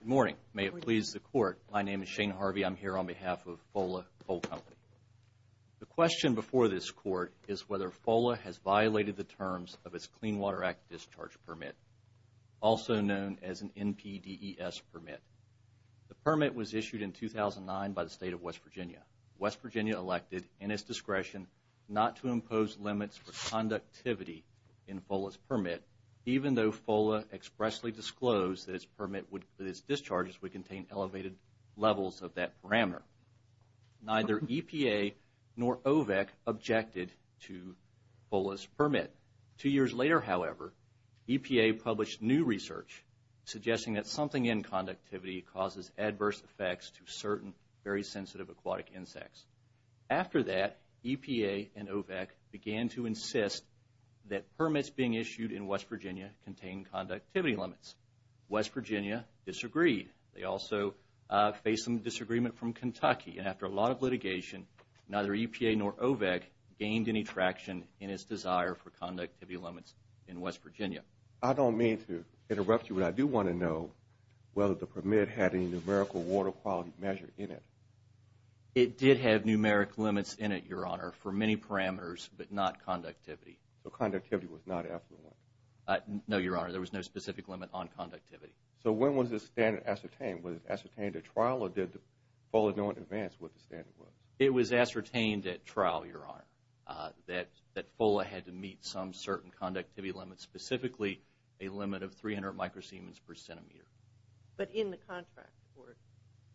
Good morning. May it please the Court. My name is Shane Harvey. I'm here on behalf of Fola Coal Company. The question before this Court is whether Fola has violated the terms of its Clean Water Act discharge permit, also known as an NPDES permit. The permit was issued in 2009 by the State of West Virginia. West Virginia elected, in its discretion, not to impose limits for conductivity in Fola's permit, even though Fola expressly disclosed that its discharges would contain elevated levels of that parameter. Neither EPA nor OVAC objected to Fola's permit. Two years later, however, EPA published new research suggesting that something in conductivity causes adverse effects to certain very sensitive aquatic insects. After that, EPA and OVAC began to insist that permits being issued in West Virginia contain conductivity limits. West Virginia disagreed. They also faced some disagreement from Kentucky. And after a lot of litigation, neither EPA nor OVAC gained any traction in its desire for conductivity limits in West Virginia. I don't mean to interrupt you, but I do want to know whether the permit had a numerical water quality measure in it. It did have numeric limits in it, Your Honor, for many parameters, but not conductivity. So conductivity was not affluent? No, Your Honor. There was no specific limit on conductivity. So when was this standard ascertained? Was it ascertained at trial, or did Fola know in advance what the standard was? It was ascertained at trial, Your Honor, that Fola had to meet some certain conductivity limit, specifically a limit of 300 microsiemens per centimeter. But in the contract,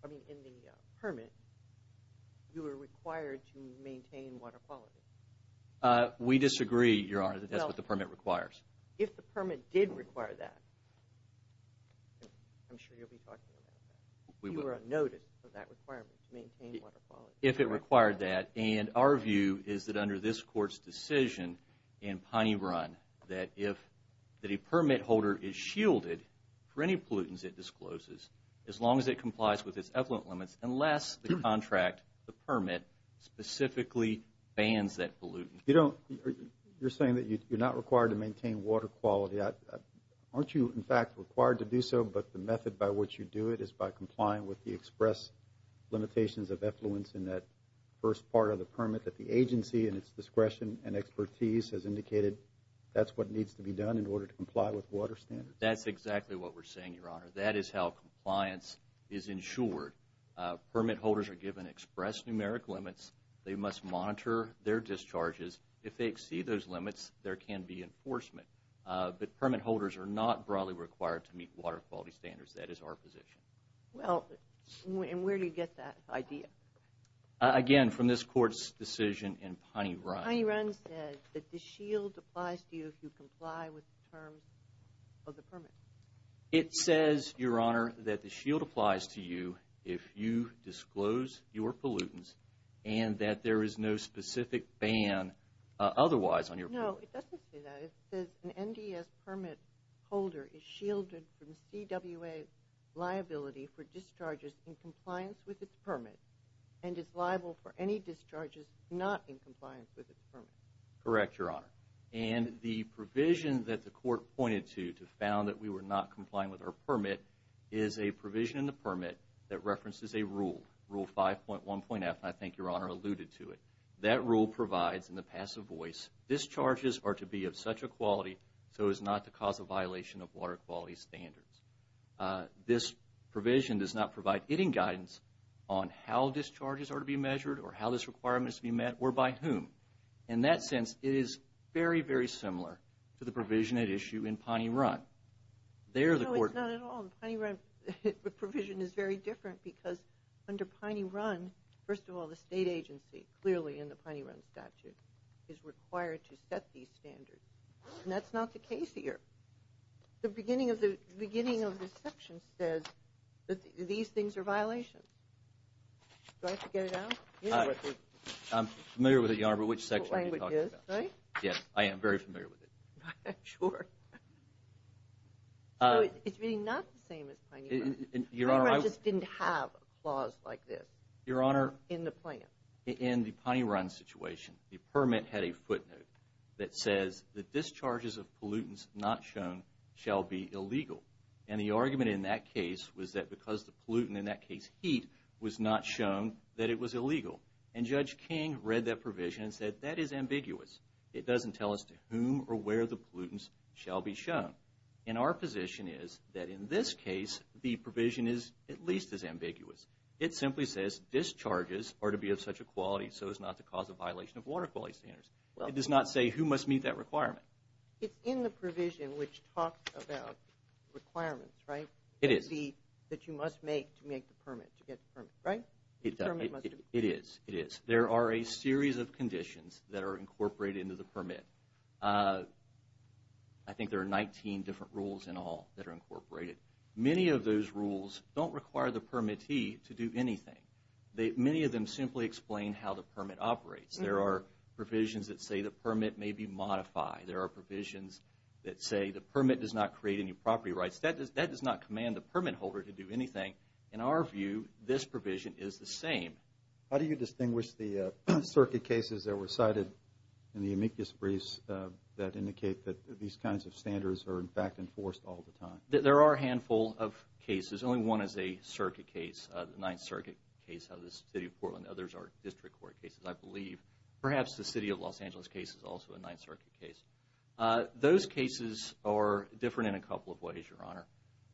I mean in the permit, you were required to maintain water quality. We disagree, Your Honor, that that's what the permit requires. If the permit did require that, I'm sure you'll be talking about that, if you were on notice of that requirement to maintain water quality. If it required that, and our view is that under this Court's decision in Piney Run, that if the permit holder is shielded for any pollutants it discloses, as long as it complies with its effluent limits, unless the contract, the permit, specifically bans that pollutant. You're saying that you're not required to maintain water quality. Aren't you, in fact, required to do so, but the method by which you do it is by complying with the express limitations of effluents in that first part of the permit that the agency in its discretion and expertise has indicated that's what needs to be done in order to comply with water standards? That's exactly what we're saying, Your Honor. That is how compliance is ensured. Permit holders are given express numeric limits. They must monitor their discharges. If they exceed those limits, there can be enforcement. But permit holders are not broadly required to meet water quality standards. That is our position. Well, and where do you get that idea? Again, from this Court's decision in Piney Run. Piney Run said that the shield applies to you if you comply with the terms of the permit. It says, Your Honor, that the shield applies to you if you disclose your pollutants No, it doesn't say that. It says an NDS permit holder is shielded from CWA liability for discharges in compliance with its permit and is liable for any discharges not in compliance with its permit. Correct, Your Honor. And the provision that the Court pointed to to found that we were not complying with our permit is a provision in the permit that references a rule, Rule 5.1.F, and I think Your Honor alluded to it. That rule provides in the passive voice, Discharges are to be of such a quality so as not to cause a violation of water quality standards. This provision does not provide any guidance on how discharges are to be measured or how this requirement is to be met or by whom. In that sense, it is very, very similar to the provision at issue in Piney Run. No, it's not at all. In Piney Run, the provision is very different because under Piney Run, first of all, the state agency clearly in the Piney Run statute is required to set these standards and that's not the case here. The beginning of this section says that these things are violations. Do I have to get it out? I'm familiar with it, Your Honor, but which section are you talking about? Which language is, right? Yes, I am very familiar with it. I'm not sure. It's really not the same as Piney Run. Piney Run just didn't have a clause like this in the plan. Your Honor, in the Piney Run situation, the permit had a footnote that says the discharges of pollutants not shown shall be illegal. And the argument in that case was that because the pollutant, in that case heat, was not shown that it was illegal. And Judge King read that provision and said that is ambiguous. It doesn't tell us to whom or where the pollutants shall be shown. And our position is that in this case, the provision is at least as ambiguous. It simply says discharges are to be of such a quality so as not to cause a violation of water quality standards. It does not say who must meet that requirement. It's in the provision which talks about requirements, right? It is. That you must make to make the permit, to get the permit, right? It does. It is. It is. There are a series of conditions that are incorporated into the permit. I think there are 19 different rules in all that are incorporated. Many of those rules don't require the permittee to do anything. Many of them simply explain how the permit operates. There are provisions that say the permit may be modified. There are provisions that say the permit does not create any property rights. That does not command the permit holder to do anything. In our view, this provision is the same. How do you distinguish the circuit cases that were cited in the amicus briefs that indicate that these kinds of standards are, in fact, enforced all the time? There are a handful of cases. Only one is a circuit case, the Ninth Circuit case out of the City of Portland. Others are district court cases, I believe. Perhaps the City of Los Angeles case is also a Ninth Circuit case. Those cases are different in a couple of ways, Your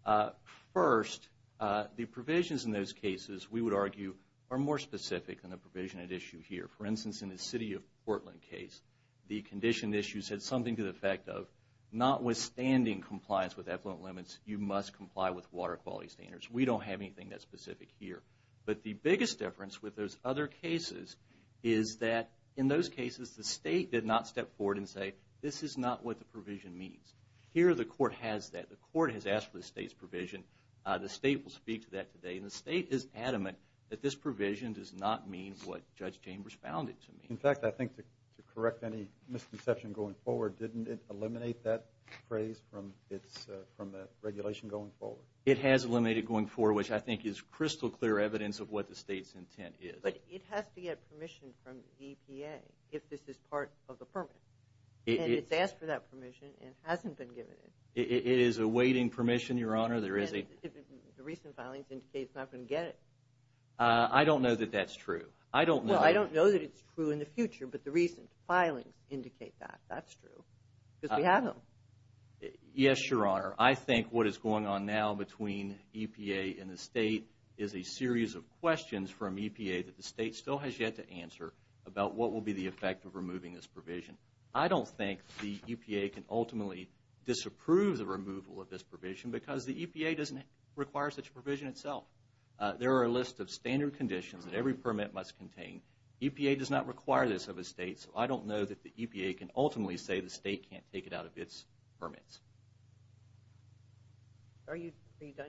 Honor. First, the provisions in those cases, we would argue, are more specific than the provision at issue here. For instance, in the City of Portland case, the condition issue said something to the effect of notwithstanding compliance with effluent limits, you must comply with water quality standards. We don't have anything that's specific here. But the biggest difference with those other cases is that in those cases the state did not step forward and say, this is not what the provision means. Here the court has that. The court has asked for the state's provision. The state will speak to that today. And the state is adamant that this provision does not mean what Judge Chambers found it to mean. In fact, I think to correct any misconception going forward, didn't it eliminate that phrase from the regulation going forward? It has eliminated it going forward, which I think is crystal clear evidence of what the state's intent is. But it has to get permission from the EPA if this is part of the permit. And it's asked for that permission and hasn't been given it. It is awaiting permission, Your Honor. The recent filings indicate it's not going to get it. I don't know that that's true. I don't know that it's true in the future, but the recent filings indicate that. That's true because we have them. Yes, Your Honor. I think what is going on now between EPA and the state is a series of questions from EPA that the state still has yet to answer about what will be the effect of removing this provision. I don't think the EPA can ultimately disapprove the removal of this provision because the EPA doesn't require such a provision itself. There are a list of standard conditions that every permit must contain. EPA does not require this of a state, so I don't know that the EPA can ultimately say the state can't take it out of its permits. Are you done?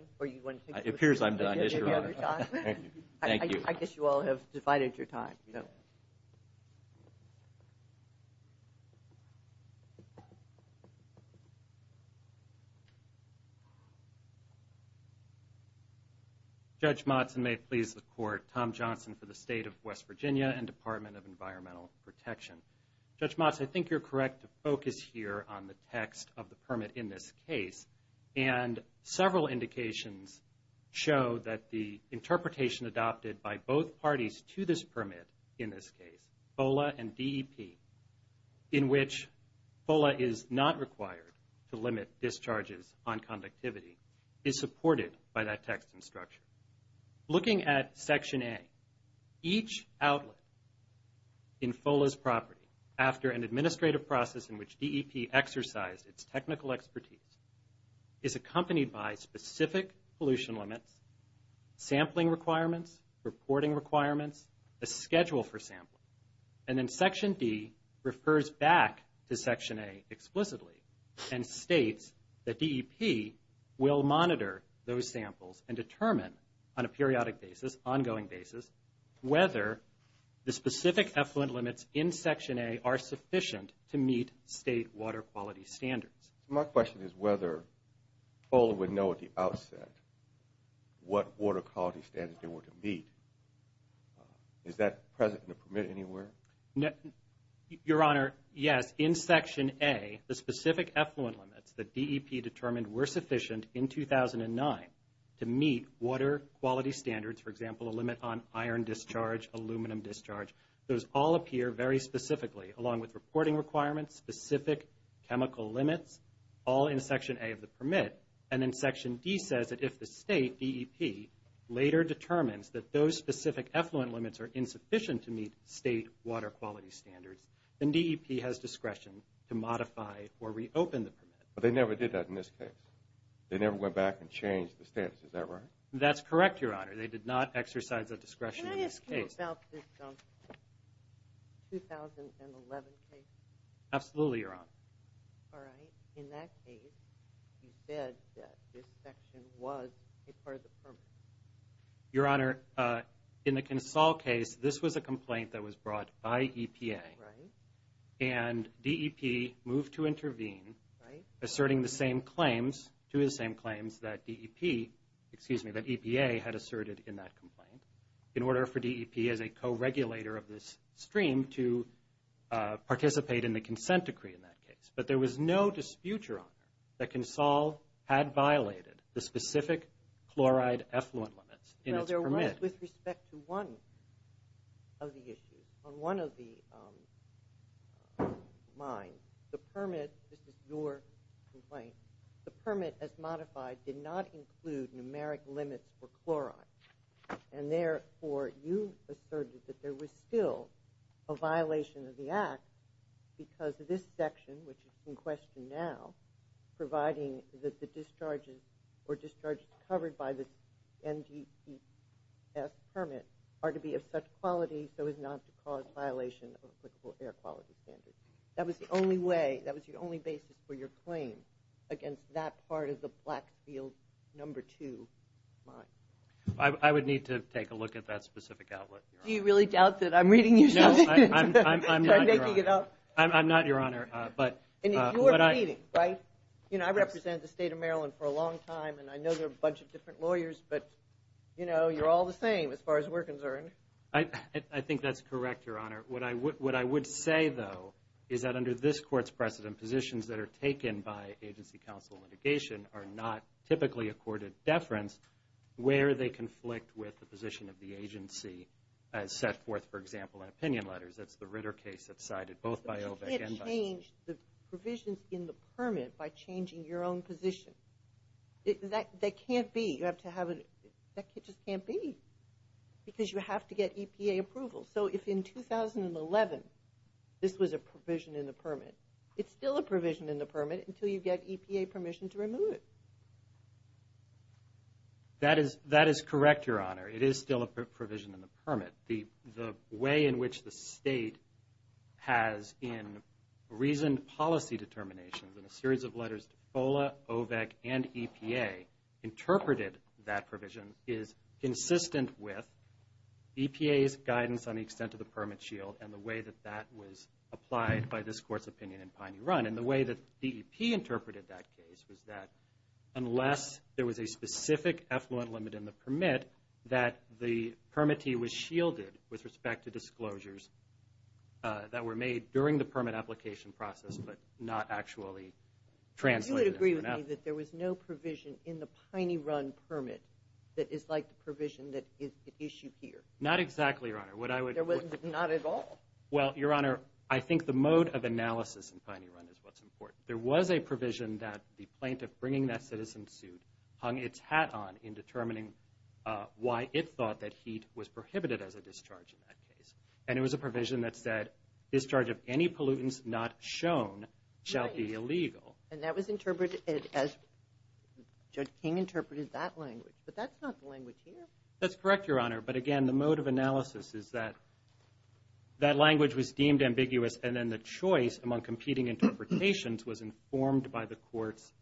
It appears I'm done, Yes, Your Honor. Thank you. I guess you all have divided your time. Judge Motzen, may it please the Court, Tom Johnson for the State of West Virginia and Department of Environmental Protection. Judge Motzen, I think you're correct to focus here on the text of the permit in this case. Several indications show that the interpretation adopted by both parties to this permit in this case, FOLA and DEP, in which FOLA is not required to limit discharges on conductivity, is supported by that text and structure. Looking at Section A, each outlet in FOLA's property after an administrative process in which DEP exercised its technical expertise is accompanied by specific pollution limits, sampling requirements, reporting requirements, a schedule for sampling. And then Section D refers back to Section A explicitly and states that DEP will monitor those samples and determine on a periodic basis, ongoing basis, whether the specific effluent limits in Section A are sufficient to meet state water quality standards. My question is whether FOLA would know at the outset what water quality standards they were to meet. Is that present in the permit anywhere? Your Honor, yes. In Section A, the specific effluent limits that DEP determined were sufficient in 2009 to meet water quality standards, for example, a limit on iron discharge, aluminum discharge, those all appear very specifically along with reporting requirements, specific chemical limits, all in Section A of the permit. And then Section D says that if the state, DEP, later determines that those specific effluent limits are insufficient to meet state water quality standards, then DEP has discretion to modify or reopen the permit. But they never did that in this case. They never went back and changed the status. Is that right? That's correct, Your Honor. They did not exercise that discretion in this case. What about this 2011 case? Absolutely, Your Honor. All right. In that case, you said that this section was a part of the permit. Your Honor, in the Consol case, this was a complaint that was brought by EPA. Right. And DEP moved to intervene, asserting the same claims, two of the same claims that DEP, excuse me, that EPA had asserted in that complaint. In order for DEP, as a co-regulator of this stream, to participate in the consent decree in that case. But there was no dispute, Your Honor, that Consol had violated the specific chloride effluent limits in its permit. With respect to one of the issues, on one of the mines, the permit, this is your complaint, the permit, as modified, did not include numeric limits for chloride. And therefore, you asserted that there was still a violation of the act because this section, which is in question now, providing that the discharges or discharges covered by the NGCS permit are to be of such quality so as not to cause violation of applicable air quality standards. That was the only way, that was the only basis for your claim against that part of the Blackfield No. 2 mine. I would need to take a look at that specific outlet, Your Honor. Do you really doubt that I'm reading you something? No, I'm not, Your Honor. I'm making it up. I'm not, Your Honor. And you're repeating, right? You know, I represented the state of Maryland for a long time, and I know there are a bunch of different lawyers, but, you know, you're all the same as far as we're concerned. I think that's correct, Your Honor. What I would say, though, is that under this Court's precedent, the positions that are taken by agency counsel litigation are not typically accorded deference where they conflict with the position of the agency as set forth, for example, in opinion letters. That's the Ritter case that's cited both by OBEC and by NGCS. But you can't change the provisions in the permit by changing your own position. That can't be. You have to have a – that just can't be because you have to get EPA approval. So if in 2011 this was a provision in the permit, it's still a provision in the permit until you get EPA permission to remove it. That is correct, Your Honor. It is still a provision in the permit. The way in which the state has, in reasoned policy determinations, in a series of letters to FOLA, OBEC, and EPA, interpreted that provision is consistent with EPA's guidance on the extent of the permit shield and the way that that was applied by this Court's opinion in Piney Run. And the way that DEP interpreted that case was that unless there was a specific effluent limit in the permit, that the permittee was shielded with respect to disclosures that were made during the permit application process but not actually translated. So you would agree with me that there was no provision in the Piney Run permit that is like the provision that is issued here? Not exactly, Your Honor. There was not at all? Well, Your Honor, I think the mode of analysis in Piney Run is what's important. There was a provision that the plaintiff bringing that citizen suit hung its hat on in determining why it thought that heat was prohibited as a discharge in that case. And it was a provision that said discharge of any pollutants not shown shall be illegal. And that was interpreted as Judge King interpreted that language. But that's not the language here. That's correct, Your Honor. But again, the mode of analysis is that that language was deemed ambiguous, and then the choice among competing interpretations was informed by the Court's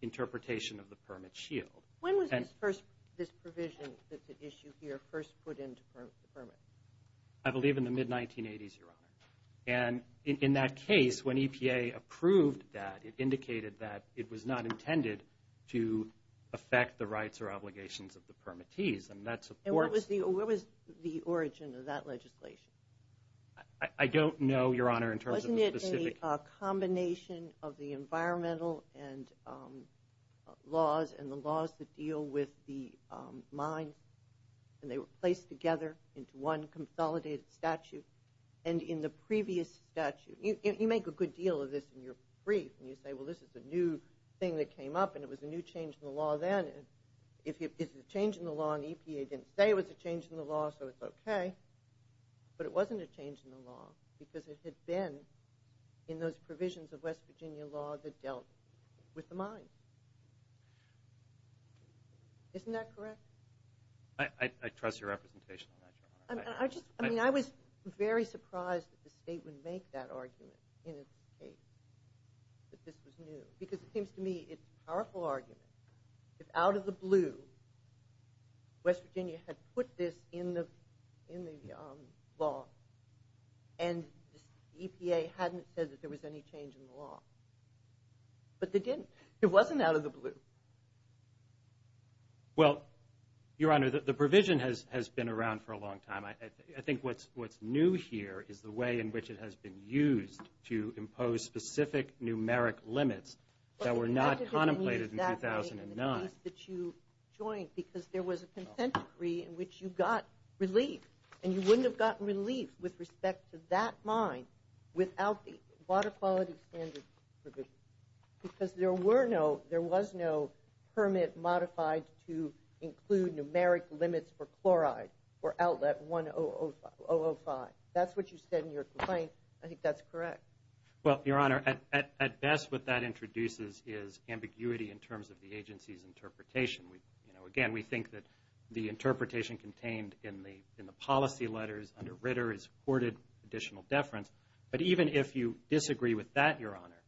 interpretation of the permit shield. When was this provision that's at issue here first put into the permit? I believe in the mid-1980s, Your Honor. And in that case, when EPA approved that, it indicated that it was not intended to affect the rights or obligations of the permittees. And that supports. And what was the origin of that legislation? I don't know, Your Honor, in terms of the specific. Wasn't it a combination of the environmental laws and the laws that deal with the mines, and they were placed together into one consolidated statute? And in the previous statute, you make a good deal of this in your brief, and you say, well, this is a new thing that came up, and it was a new change in the law then. If it's a change in the law and EPA didn't say it was a change in the law, so it's okay. But it wasn't a change in the law because it had been in those provisions of West Virginia law that dealt with the mines. Isn't that correct? I trust your representation on that, Your Honor. I was very surprised that the state would make that argument in its case, that this was new, because it seems to me it's a powerful argument. If out of the blue West Virginia had put this in the law and EPA hadn't said that there was any change in the law, but they didn't. It wasn't out of the blue. Well, Your Honor, the provision has been around for a long time. I think what's new here is the way in which it has been used to impose specific numeric limits that were not contemplated in 2009. But what did it mean exactly in the case that you joined, because there was a consent decree in which you got relief, and you wouldn't have gotten relief with respect to that mine without the quality standards provision? Because there was no permit modified to include numeric limits for chloride for outlet 1005. That's what you said in your complaint. I think that's correct. Well, Your Honor, at best what that introduces is ambiguity in terms of the agency's interpretation. Again, we think that the interpretation contained in the policy letters under Ritter has afforded additional deference. But even if you disagree with that, Your Honor,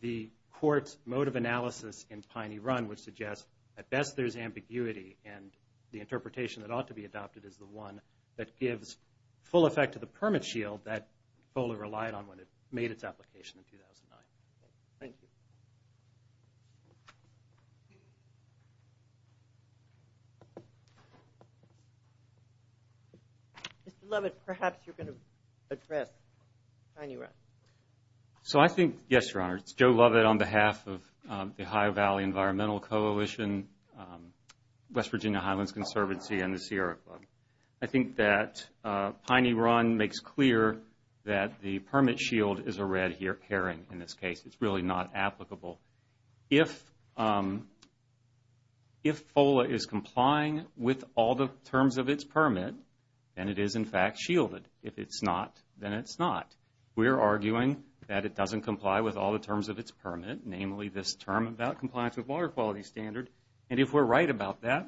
the court's mode of analysis in Piney Run would suggest at best there's ambiguity, and the interpretation that ought to be adopted is the one that gives full effect to the permit shield that FOLA relied on when it made its application in 2009. Thank you. Mr. Lovett, perhaps you're going to address Piney Run. So I think, yes, Your Honor, it's Joe Lovett on behalf of the Ohio Valley Environmental Coalition, West Virginia Highlands Conservancy, and the Sierra Club. I think that Piney Run makes clear that the permit shield is a red herring in this case. It's really not applicable. If FOLA is complying with all the terms of its permit, then it is in fact shielded. If it's not, then it's not. We're arguing that it doesn't comply with all the terms of its permit, namely this term about compliance with water quality standard. And if we're right about that,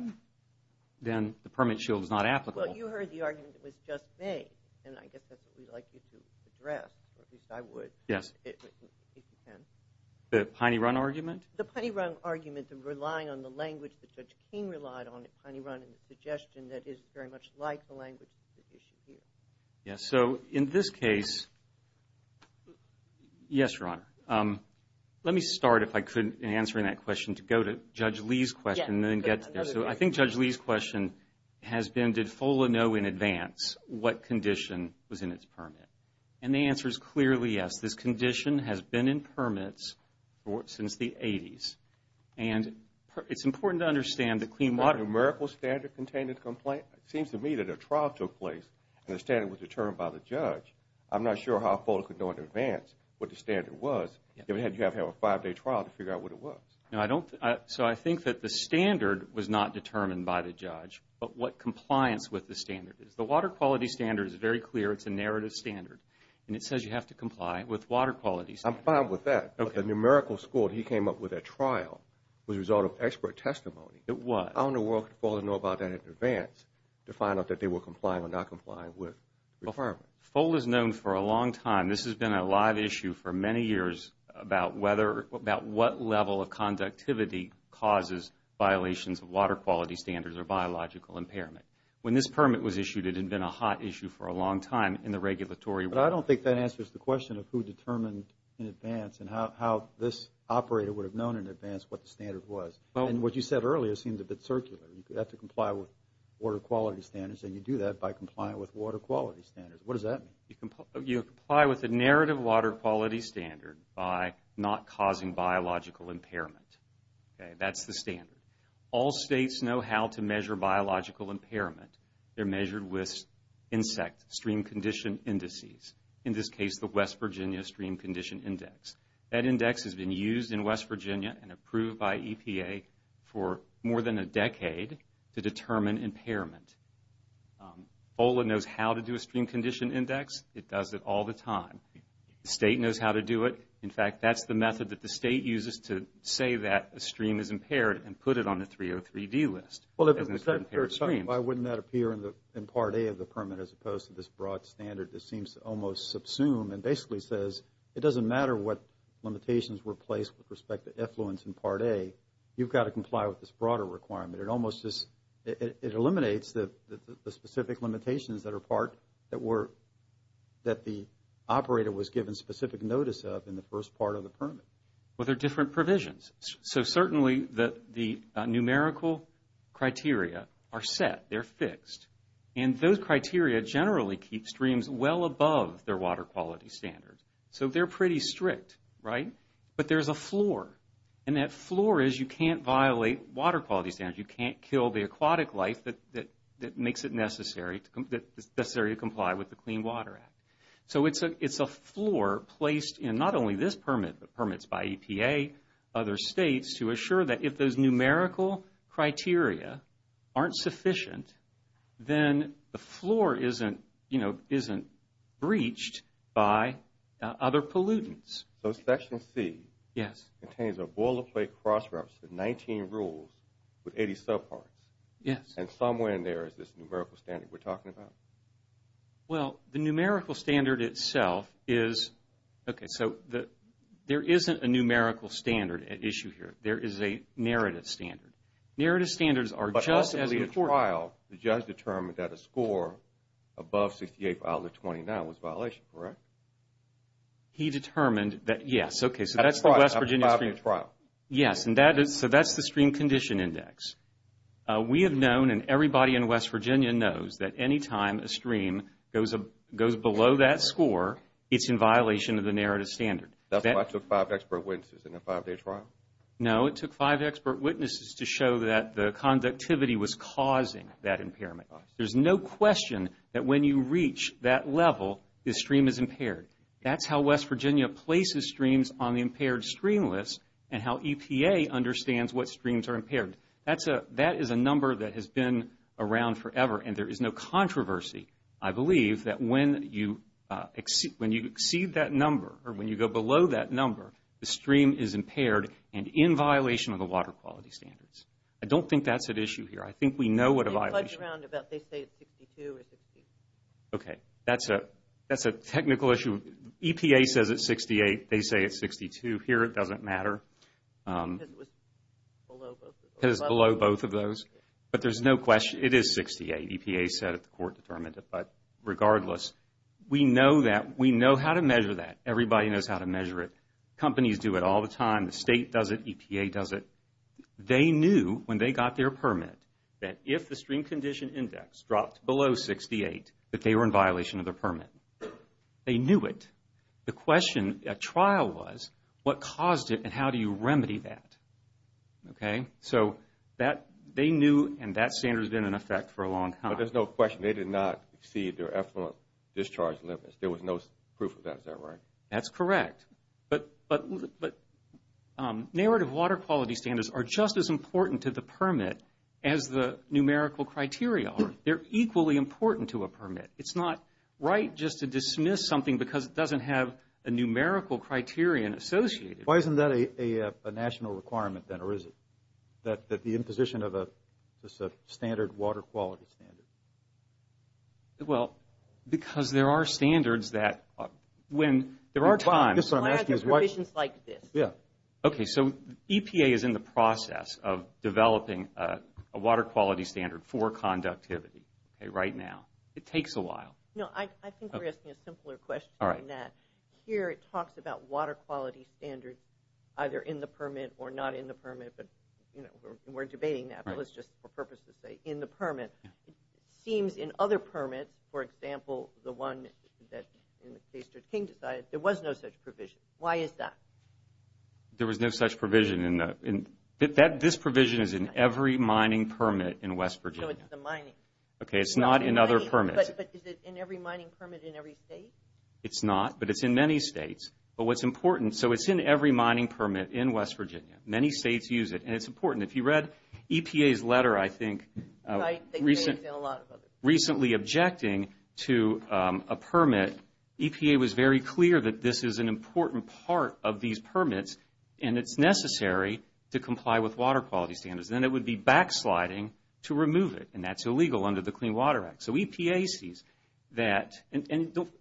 then the permit shield is not applicable. Well, you heard the argument that was just made, and I guess that's what we'd like you to address, or at least I would. Yes. If you can. The Piney Run argument? The Piney Run argument, the relying on the language that Judge King relied on at Piney Run and the suggestion that it's very much like the language that's at issue here. Yes. So in this case, yes, Your Honor. Let me start, if I could, in answering that question, to go to Judge Lee's question and then get to this. So I think Judge Lee's question has been, did FOLA know in advance what condition was in its permit? And the answer is clearly yes. This condition has been in permits since the 80s. And it's important to understand that clean water ---- A numerical standard contained in the complaint? It seems to me that a trial took place and the standard was determined by the judge. I'm not sure how FOLA could know in advance what the standard was, if it had to have a five-day trial to figure out what it was. No, I don't. So I think that the standard was not determined by the judge, but what compliance with the standard is. The water quality standard is very clear. It's a narrative standard, and it says you have to comply. With water quality standards. I'm fine with that. But the numerical score, he came up with at trial, was a result of expert testimony. It was. How in the world could FOLA know about that in advance to find out that they were complying or not complying with the permit? FOLA is known for a long time. This has been a live issue for many years about what level of conductivity causes violations of water quality standards or biological impairment. When this permit was issued, it had been a hot issue for a long time in the regulatory world. But I don't think that answers the question of who determined in advance and how this operator would have known in advance what the standard was. And what you said earlier seemed a bit circular. You have to comply with water quality standards, and you do that by complying with water quality standards. What does that mean? You comply with a narrative water quality standard by not causing biological impairment. That's the standard. All states know how to measure biological impairment. They're measured with insect stream condition indices, in this case the West Virginia Stream Condition Index. That index has been used in West Virginia and approved by EPA for more than a decade to determine impairment. FOLA knows how to do a stream condition index. It does it all the time. The state knows how to do it. In fact, that's the method that the state uses to say that a stream is impaired and put it on the 303D list. Why wouldn't that appear in Part A of the permit as opposed to this broad standard that seems to almost subsume and basically says it doesn't matter what limitations were placed with respect to effluence in Part A. You've got to comply with this broader requirement. It eliminates the specific limitations that the operator was given specific notice of in the first part of the permit. Well, they're different provisions. Certainly, the numerical criteria are set. They're fixed. Those criteria generally keep streams well above their water quality standards. They're pretty strict, right? But there's a floor. That floor is you can't violate water quality standards. You can't kill the aquatic life that makes it necessary to comply with the Clean Water Act. It's a floor placed in not only this permit, but permits by EPA, other states to assure that if those numerical criteria aren't sufficient, then the floor isn't breached by other pollutants. So Section C contains a boilerplate cross-reference with 19 rules with 80 subparts. Yes. And somewhere in there is this numerical standard we're talking about. Well, the numerical standard itself is, okay, so there isn't a numerical standard at issue here. There is a narrative standard. Narrative standards are just as important. But ultimately, at trial, the judge determined that a score above 68 for Outlet 29 was a violation, correct? He determined that, yes. Okay, so that's the West Virginia stream. At trial. Yes, so that's the stream condition index. We have known, and everybody in West Virginia knows, that any time a stream goes below that score, it's in violation of the narrative standard. That's why it took five expert witnesses in a five-day trial? No, it took five expert witnesses to show that the conductivity was causing that impairment. There's no question that when you reach that level, the stream is impaired. That's how West Virginia places streams on the impaired stream list and how EPA understands what streams are impaired. That is a number that has been around forever, and there is no controversy, I believe, that when you exceed that number, or when you go below that number, the stream is impaired and in violation of the water quality standards. I don't think that's an issue here. I think we know what a violation is. They fudge around about they say it's 62 or 60. Okay, that's a technical issue. EPA says it's 68. They say it's 62. Here it doesn't matter. Because it was below both of those. Because it's below both of those. But there's no question, it is 68. EPA said it. The court determined it. But regardless, we know that. We know how to measure that. Everybody knows how to measure it. Companies do it all the time. The state does it. EPA does it. They knew when they got their permit that if the stream condition index dropped below 68, that they were in violation of their permit. They knew it. The question at trial was, what caused it and how do you remedy that? Okay, so they knew and that standard has been in effect for a long time. But there's no question. They did not exceed their effluent discharge limits. There was no proof of that. Is that right? That's correct. But narrative water quality standards are just as important to the permit as the numerical criteria are. They're equally important to a permit. It's not right just to dismiss something because it doesn't have a numerical criterion associated with it. Why isn't that a national requirement then, or is it? That the imposition of a standard water quality standard? Well, because there are standards that when there are times. Why are there provisions like this? Yeah. Okay, so EPA is in the process of developing a water quality standard for conductivity right now. It takes a while. No, I think we're asking a simpler question than that. Here it talks about water quality standards either in the permit or not in the permit. But, you know, we're debating that. But let's just for purposes say in the permit. It seems in other permits, for example, the one that King decided, there was no such provision. Why is that? There was no such provision. This provision is in every mining permit in West Virginia. No, it's the mining. Okay, it's not in other permits. But is it in every mining permit in every state? It's not, but it's in many states. But what's important, so it's in every mining permit in West Virginia. Many states use it, and it's important. If you read EPA's letter, I think, recently objecting to a permit, EPA was very clear that this is an important part of these permits, and it's necessary to comply with water quality standards. Then it would be backsliding to remove it, and that's illegal under the Clean Water Act. So EPA sees that. And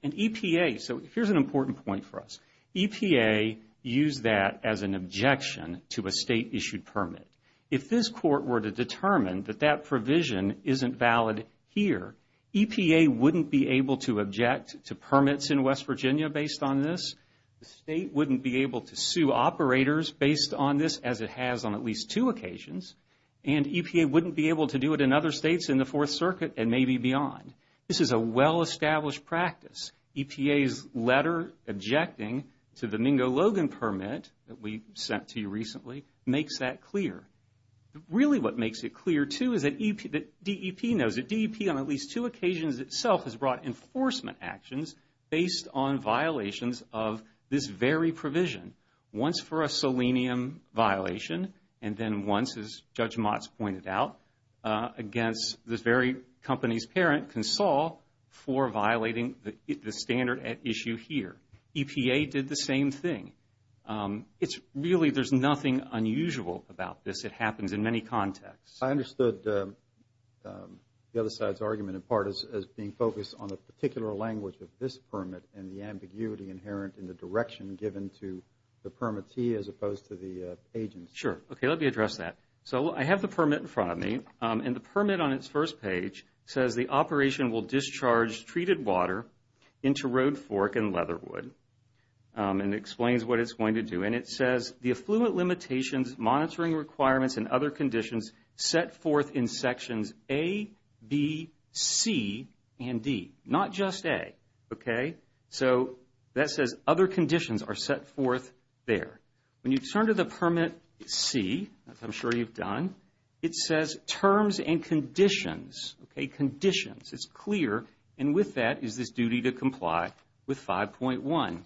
EPA, so here's an important point for us. EPA used that as an objection to a state-issued permit. If this court were to determine that that provision isn't valid here, EPA wouldn't be able to object to permits in West Virginia based on this. The state wouldn't be able to sue operators based on this, as it has on at least two occasions. And EPA wouldn't be able to do it in other states in the Fourth Circuit and maybe beyond. This is a well-established practice. EPA's letter objecting to the Mingo-Logan permit that we sent to you recently makes that clear. Really what makes it clear, too, is that DEP knows that DEP, on at least two occasions itself, has brought enforcement actions based on violations of this very provision, once for a selenium violation and then once, as Judge Motz pointed out, against this very company's parent, Consol, for violating the standard at issue here. EPA did the same thing. It's really, there's nothing unusual about this. It happens in many contexts. I understood the other side's argument in part as being focused on the particular language of this permit and the ambiguity inherent in the direction given to the permittee as opposed to the agency. Sure. Okay, let me address that. So I have the permit in front of me, and the permit on its first page says, the operation will discharge treated water into Road Fork and Leatherwood. It explains what it's going to do, and it says, the affluent limitations, monitoring requirements, and other conditions set forth in sections A, B, C, and D. Not just A, okay? So that says other conditions are set forth there. When you turn to the permit C, as I'm sure you've done, it says terms and conditions, okay, conditions. It's clear, and with that is this duty to comply with 5.1,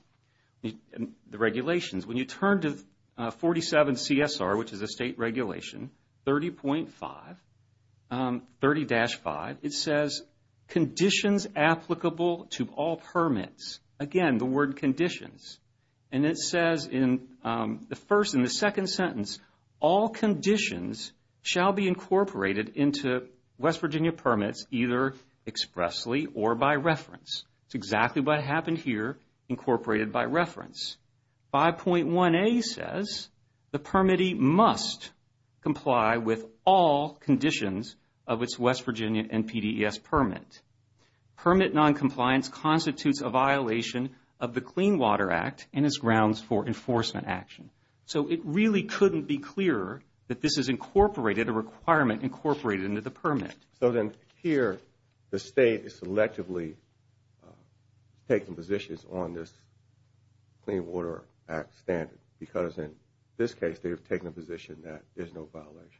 the regulations. When you turn to 47 CSR, which is a state regulation, 30.5, 30-5, it says conditions applicable to all permits. Again, the word conditions. And it says in the first and the second sentence, all conditions shall be incorporated into West Virginia permits either expressly or by reference. It's exactly what happened here, incorporated by reference. 5.1a says the permittee must comply with all conditions of its West Virginia NPDES permit. Permit noncompliance constitutes a violation of the Clean Water Act and is grounds for enforcement action. So it really couldn't be clearer that this is incorporated, a requirement incorporated into the permit. So then here, the state is selectively taking positions on this Clean Water Act standard. Because in this case, they've taken a position that there's no violation.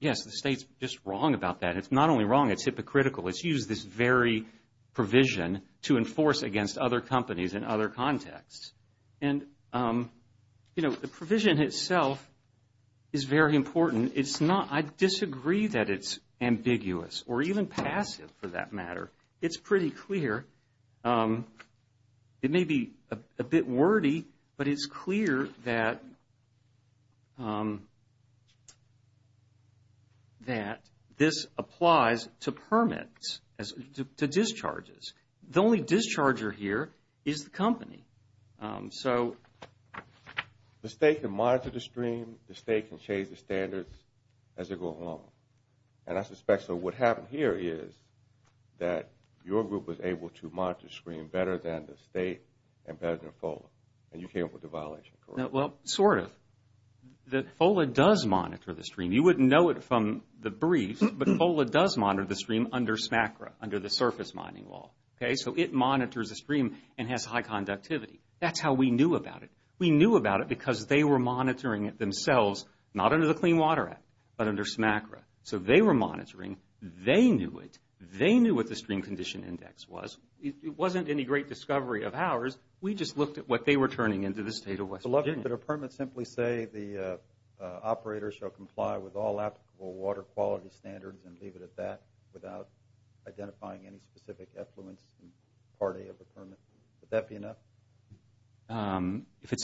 Yes, the state's just wrong about that. It's not only wrong, it's hypocritical. It's used this very provision to enforce against other companies in other contexts. And, you know, the provision itself is very important. And it's not, I disagree that it's ambiguous or even passive for that matter. It's pretty clear. It may be a bit wordy, but it's clear that this applies to permits, to discharges. The only discharger here is the company. So the state can monitor the stream. The state can change the standards as they go along. And I suspect that what happened here is that your group was able to monitor the stream better than the state and better than FOLA. And you came up with the violation, correct? Well, sort of. FOLA does monitor the stream. You wouldn't know it from the brief, but FOLA does monitor the stream under SMACRA, under the Surface Mining Law. Okay? So it monitors the stream and has high conductivity. That's how we knew about it. We knew about it because they were monitoring it themselves, not under the Clean Water Act, but under SMACRA. So they were monitoring. They knew it. They knew what the stream condition index was. It wasn't any great discovery of ours. We just looked at what they were turning into the state of West Virginia. Mr. Lovett, could a permit simply say the operator shall comply with all applicable water quality standards and leave it at that, without identifying any specific affluence and party of a permit? Would that be enough?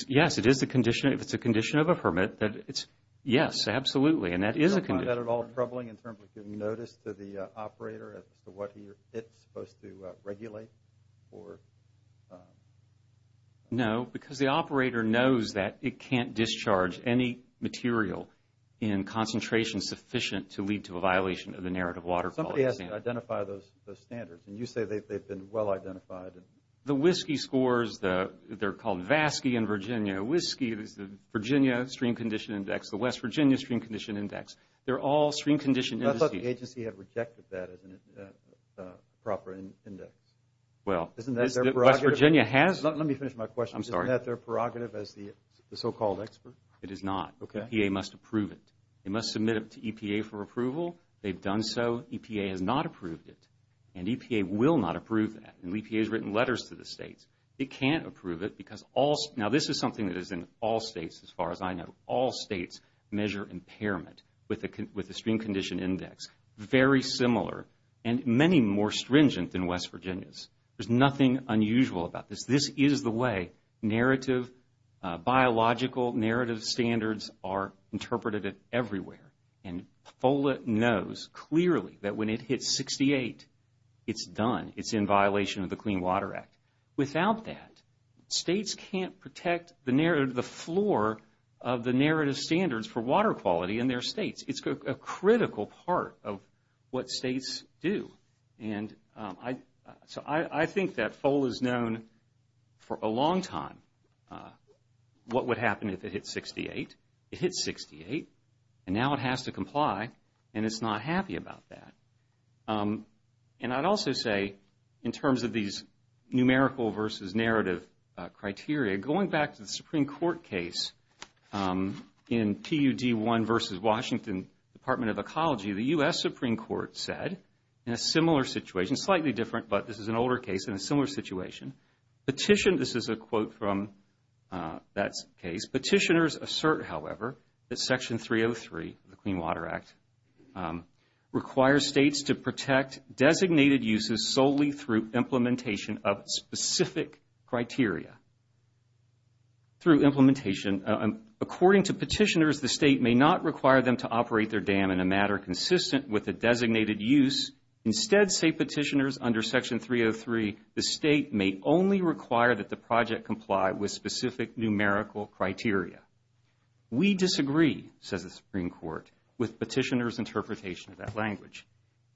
Yes, it is a condition. If it's a condition of a permit, then it's yes, absolutely. And that is a condition. Isn't that at all troubling in terms of giving notice to the operator as to what it's supposed to regulate? No, because the operator knows that it can't discharge any material in concentrations sufficient to lead to a violation of the narrative water quality standards. Somebody has to identify those standards, and you say they've been well identified. The whiskey scores, they're called VASCE in Virginia. Whiskey is the Virginia stream condition index, the West Virginia stream condition index. They're all stream condition indices. The agency has rejected that as a proper index. Well, West Virginia has. Let me finish my question. I'm sorry. Isn't that their prerogative as the so-called expert? It is not. EPA must approve it. They must submit it to EPA for approval. They've done so. EPA has not approved it. And EPA will not approve that. And EPA has written letters to the states. It can't approve it because all, now this is something that is in all states as far as I know. All states measure impairment with the stream condition index. Very similar and many more stringent than West Virginia's. There's nothing unusual about this. This is the way narrative, biological narrative standards are interpreted everywhere. And FOLA knows clearly that when it hits 68, it's done. It's in violation of the Clean Water Act. Without that, states can't protect the narrative, the floor of the narrative standards for water quality in their states. It's a critical part of what states do. And so I think that FOLA has known for a long time what would happen if it hits 68. It hits 68, and now it has to comply, and it's not happy about that. And I'd also say in terms of these numerical versus narrative criteria, going back to the Supreme Court case in PUD1 versus Washington Department of Ecology, the U.S. Supreme Court said in a similar situation, slightly different, but this is an older case, in a similar situation, petitioned, this is a quote from that case, petitioners assert, however, that Section 303 of the Clean Water Act requires states to protect designated uses solely through implementation of specific criteria. Through implementation, according to petitioners, the state may not require them to operate their dam in a matter consistent with a designated use. Instead, say petitioners under Section 303, the state may only require that the project comply with specific numerical criteria. We disagree, says the Supreme Court, with petitioners' interpretation of that language.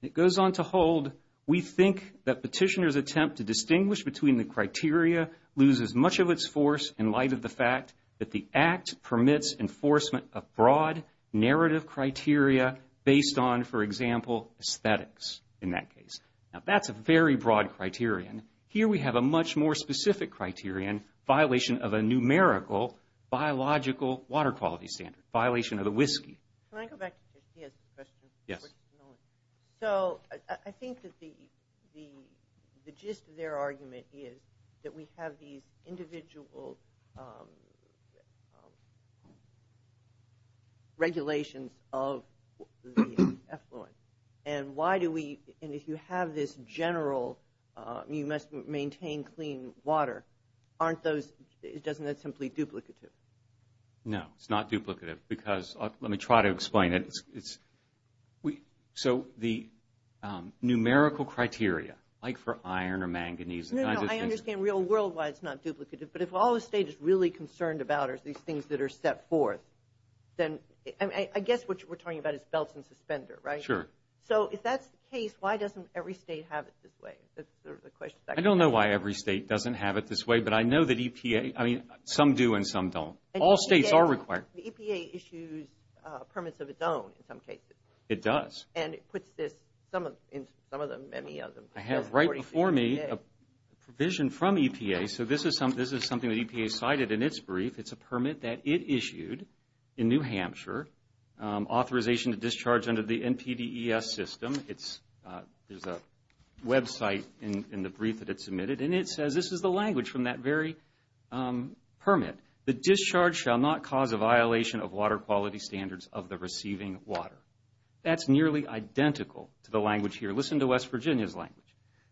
It goes on to hold, we think that petitioners' attempt to distinguish between the criteria loses much of its force in light of the fact that the Act permits enforcement of broad narrative criteria based on, for example, aesthetics in that case. Now, that's a very broad criterion. Here we have a much more specific criterion, violation of a numerical biological water quality standard, violation of the whiskey. Can I go back to Trish? She has a question. Yes. So, I think that the gist of their argument is that we have these individual regulations of the effluent, and why do we, and if you have this general, you must maintain clean water, aren't those, isn't that simply duplicative? No, it's not duplicative because, let me try to explain it. So, the numerical criteria, like for iron or manganese, No, no, I understand real world why it's not duplicative, but if all the state is really concerned about are these things that are set forth, I guess what we're talking about is belts and suspenders, right? Sure. So, if that's the case, why doesn't every state have it this way? I don't know why every state doesn't have it this way, but I know that EPA, I mean, some do and some don't. All states are required. The EPA issues permits of its own in some cases. It does. And it puts this in some of them, many of them. I have right before me a provision from EPA, so this is something that EPA cited in its brief. It's a permit that it issued in New Hampshire, authorization to discharge under the NPDES system. There's a website in the brief that it submitted, and it says, this is the language from that very permit. The discharge shall not cause a violation of water quality standards of the receiving water. That's nearly identical to the language here. Listen to West Virginia's language.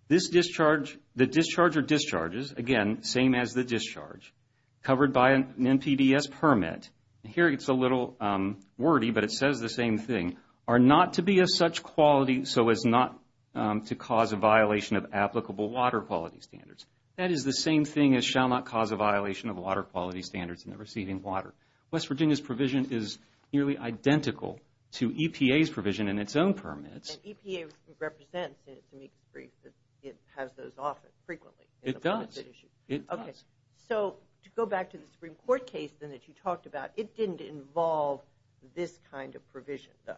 The discharge or discharges, again, same as the discharge, covered by an NPDES permit. Here it's a little wordy, but it says the same thing. Are not to be of such quality so as not to cause a violation of applicable water quality standards. That is the same thing as shall not cause a violation of water quality standards in the receiving water. West Virginia's provision is nearly identical to EPA's provision in its own permits. And EPA represents in its amicus brief that it has those often, frequently. It does. Okay. So to go back to the Supreme Court case that you talked about, it didn't involve this kind of provision, though.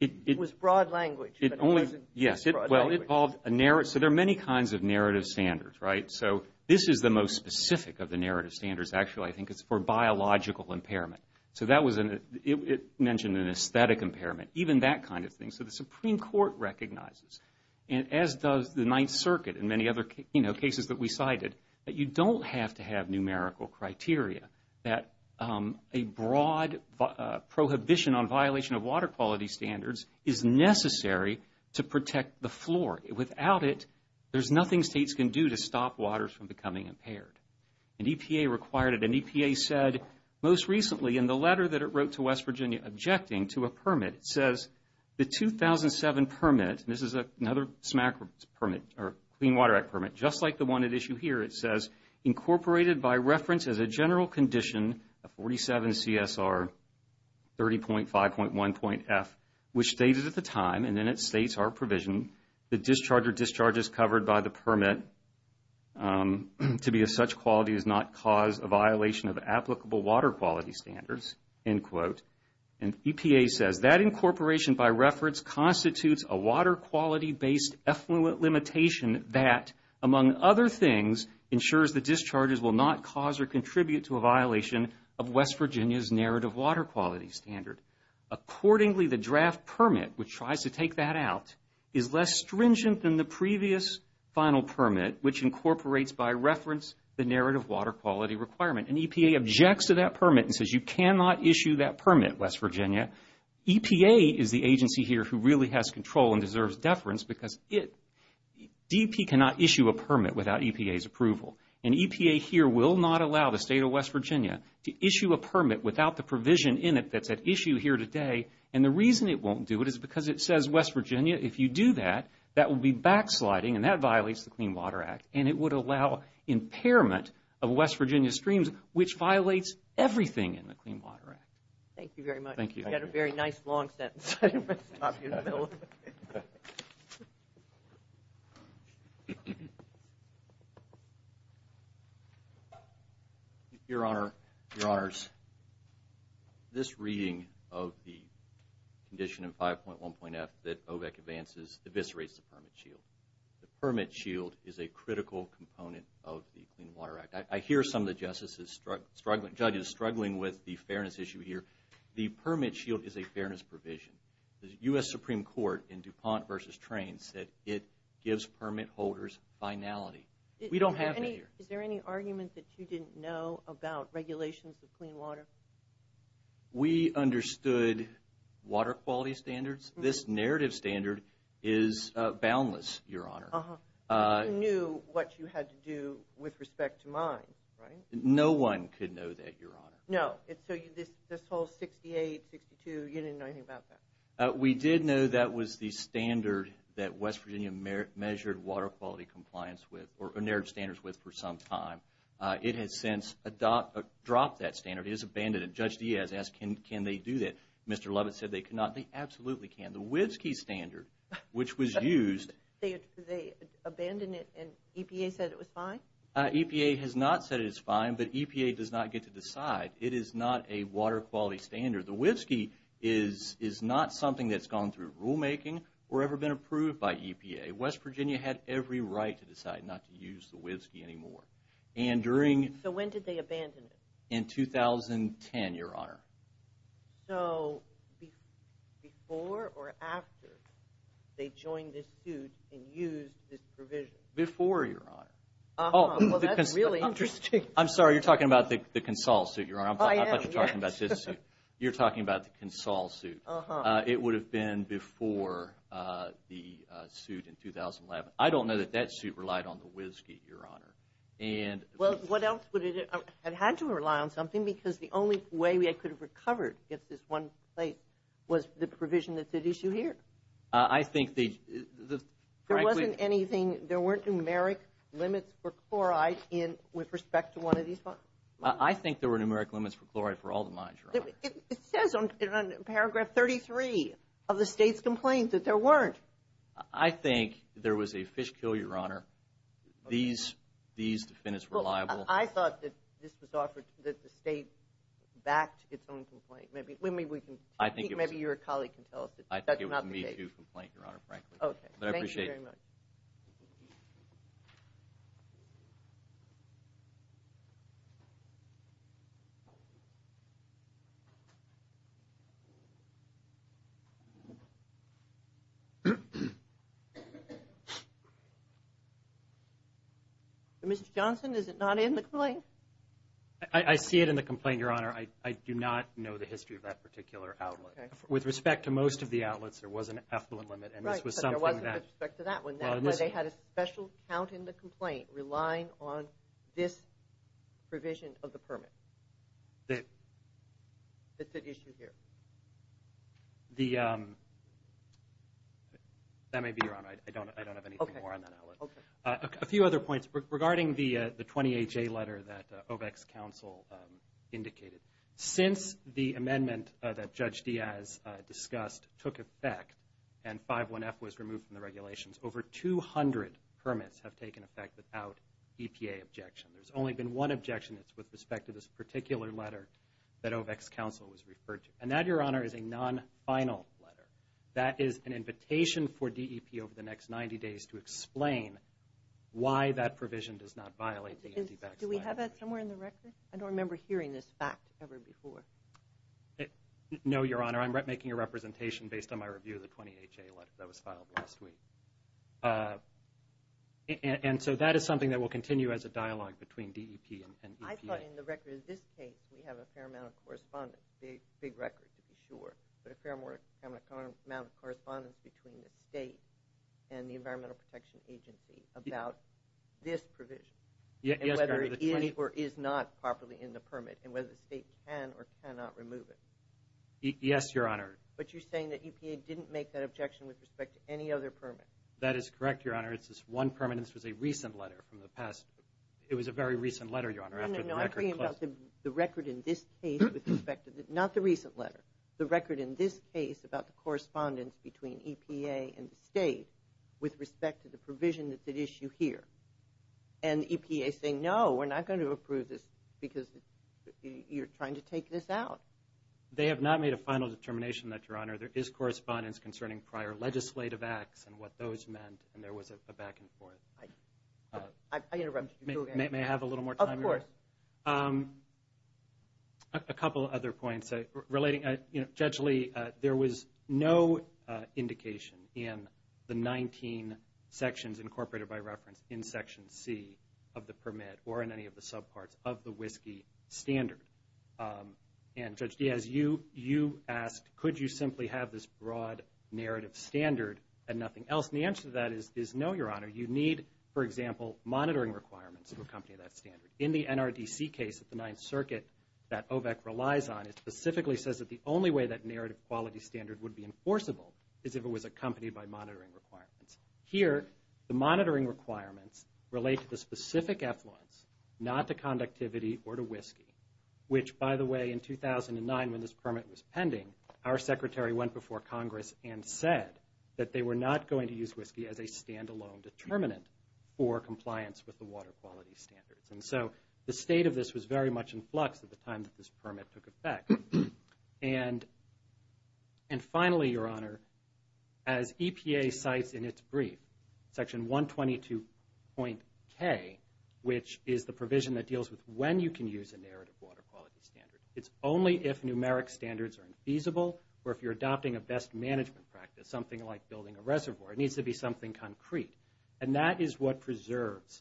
It was broad language, but it wasn't broad language. Yes. Well, it involved a narrative. So there are many kinds of narrative standards, right? So this is the most specific of the narrative standards, actually. I think it's for biological impairment. So that was an – it mentioned an aesthetic impairment, even that kind of thing. So the Supreme Court recognizes, as does the Ninth Circuit and many other cases that we cited, that you don't have to have numerical criteria. That a broad prohibition on violation of water quality standards is necessary to protect the flora. Without it, there's nothing states can do to stop waters from becoming impaired. And EPA required it. And EPA said most recently in the letter that it wrote to West Virginia objecting to a permit, it says the 2007 permit, and this is another SMAC permit, or Clean Water Act permit, just like the one at issue here, it says, incorporated by reference as a general condition of 47 CSR 30.5.1.F, which stated at the time, and then it states our provision, the discharge or discharges covered by the permit to be of such quality is not cause a violation of applicable water quality standards, end quote. And EPA says that incorporation by reference constitutes a water quality-based effluent limitation that, among other things, ensures the discharges will not cause or contribute to a violation of West Virginia's narrative water quality standard. Accordingly, the draft permit, which tries to take that out, is less stringent than the previous final permit, which incorporates by reference the narrative water quality requirement. And EPA objects to that permit and says you cannot issue that permit, West Virginia. EPA is the agency here who really has control and deserves deference because DP cannot issue a permit without EPA's approval. And EPA here will not allow the State of West Virginia to issue a permit without the provision in it that's at issue here today. And the reason it won't do it is because it says, West Virginia, if you do that, that will be backsliding and that violates the Clean Water Act. And it would allow impairment of West Virginia's streams, which violates everything in the Clean Water Act. Thank you very much. Thank you. You had a very nice long sentence. I didn't want to stop you in the middle of it. Your Honor, Your Honors, this reading of the condition in 5.1.F that OVAC advances eviscerates the permit shield. The permit shield is a critical component of the Clean Water Act. I hear some of the judges struggling with the fairness issue here. The permit shield is a fairness provision. The U.S. Supreme Court in DuPont v. Train said it gives permit holders finality. We don't have that here. Is there any argument that you didn't know about regulations of clean water? We understood water quality standards. This narrative standard is boundless, Your Honor. You knew what you had to do with respect to mine, right? No one could know that, Your Honor. No. So this whole 68, 62, you didn't know anything about that? We did know that was the standard that West Virginia measured water quality compliance with or narrowed standards with for some time. It has since dropped that standard. It has abandoned it. Judge Diaz asked, can they do that? Mr. Lovett said they cannot. They absolutely can. The WIVSKY standard, which was used. They abandoned it and EPA said it was fine? EPA has not said it is fine, but EPA does not get to decide. It is not a water quality standard. The WIVSKY is not something that's gone through rulemaking or ever been approved by EPA. West Virginia had every right to decide not to use the WIVSKY anymore. So when did they abandon it? In 2010, Your Honor. So before or after they joined this suit and used this provision? Before, Your Honor. Well, that's really interesting. I'm sorry. You're talking about the CONSOL suit, Your Honor. I thought you were talking about this suit. You're talking about the CONSOL suit. It would have been before the suit in 2011. Well, what else would it have had to rely on something? Because the only way we could have recovered this one place was the provision that's at issue here. I think the – There wasn't anything – there weren't numeric limits for chloride with respect to one of these funds? I think there were numeric limits for chloride for all the mines, Your Honor. It says on paragraph 33 of the state's complaint that there weren't. I think there was a fish kill, Your Honor. These defendants were liable. I thought that this was offered – that the state backed its own complaint. Maybe we can – maybe your colleague can tell us. I think it was a Me Too complaint, Your Honor, frankly. But I appreciate it. Thank you very much. Mr. Johnson, is it not in the complaint? I see it in the complaint, Your Honor. I do not know the history of that particular outlet. With respect to most of the outlets, there was an effluent limit, and this was something that – Right, but there wasn't with respect to that one, where they had a special count in the complaint relying on this provision of the permit that's at issue here. That may be, Your Honor. I don't have anything more on that outlet. Okay. A few other points. Regarding the 28-J letter that OVAC's counsel indicated, since the amendment that Judge Diaz discussed took effect and 5-1-F was removed from the regulations, over 200 permits have taken effect without EPA objection. There's only been one objection that's with respect to this particular letter that OVAC's counsel has referred to. And that, Your Honor, is a non-final letter. That is an invitation for DEP over the next 90 days to explain why that provision does not violate the OVAC statute. Do we have that somewhere in the record? I don't remember hearing this fact ever before. No, Your Honor. I'm making a representation based on my review of the 28-J letter that was filed last week. And so that is something that will continue as a dialogue between DEP and EPA. I thought in the record of this case, we have a fair amount of correspondence, a big record to be sure, but a fair amount of correspondence between the state and the Environmental Protection Agency about this provision and whether it is or is not properly in the permit and whether the state can or cannot remove it. Yes, Your Honor. But you're saying that EPA didn't make that objection with respect to any other permit. That is correct, Your Honor. It's this one permit, and this was a recent letter from the past. It was a very recent letter, Your Honor, after the record was closed. I'm talking about the record in this case with respect to the—not the recent letter, the record in this case about the correspondence between EPA and the state with respect to the provision that's at issue here. And EPA is saying, no, we're not going to approve this because you're trying to take this out. They have not made a final determination that, Your Honor, there is correspondence concerning prior legislative acts and what those meant, and there was a back and forth. I interrupted you. May I have a little more time? Of course. A couple other points. Judge Lee, there was no indication in the 19 sections, incorporated by reference in Section C of the permit or in any of the subparts of the WSGI standard. And Judge Diaz, you asked, could you simply have this broad narrative standard and nothing else? And the answer to that is, no, Your Honor. You need, for example, monitoring requirements to accompany that standard. In the NRDC case at the Ninth Circuit that OVEC relies on, it specifically says that the only way that narrative quality standard would be enforceable is if it was accompanied by monitoring requirements. Here, the monitoring requirements relate to the specific effluence, not to conductivity or to WSGI, which, by the way, in 2009 when this permit was pending, our Secretary went before Congress and said that they were not going to use WSGI as a standalone determinant for compliance with the water quality standards. And so the state of this was very much in flux at the time that this permit took effect. And finally, Your Honor, as EPA cites in its brief, Section 122.K, which is the provision that deals with when you can use a narrative water quality standard. It's only if numeric standards are infeasible or if you're adopting a best management practice, something like building a reservoir. It needs to be something concrete. And that is what preserves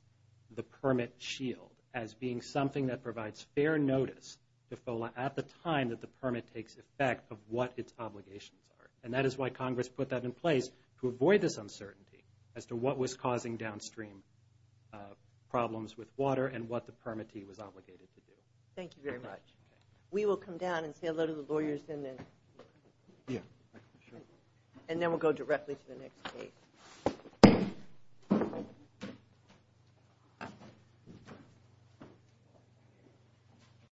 the permit shield as being something that provides fair notice at the time that the permit takes effect of what its obligations are. And that is why Congress put that in place to avoid this uncertainty as to what was causing downstream problems with water and what the permittee was obligated to do. Thank you very much. We will come down and say hello to the lawyers. And then we'll go directly to the next case.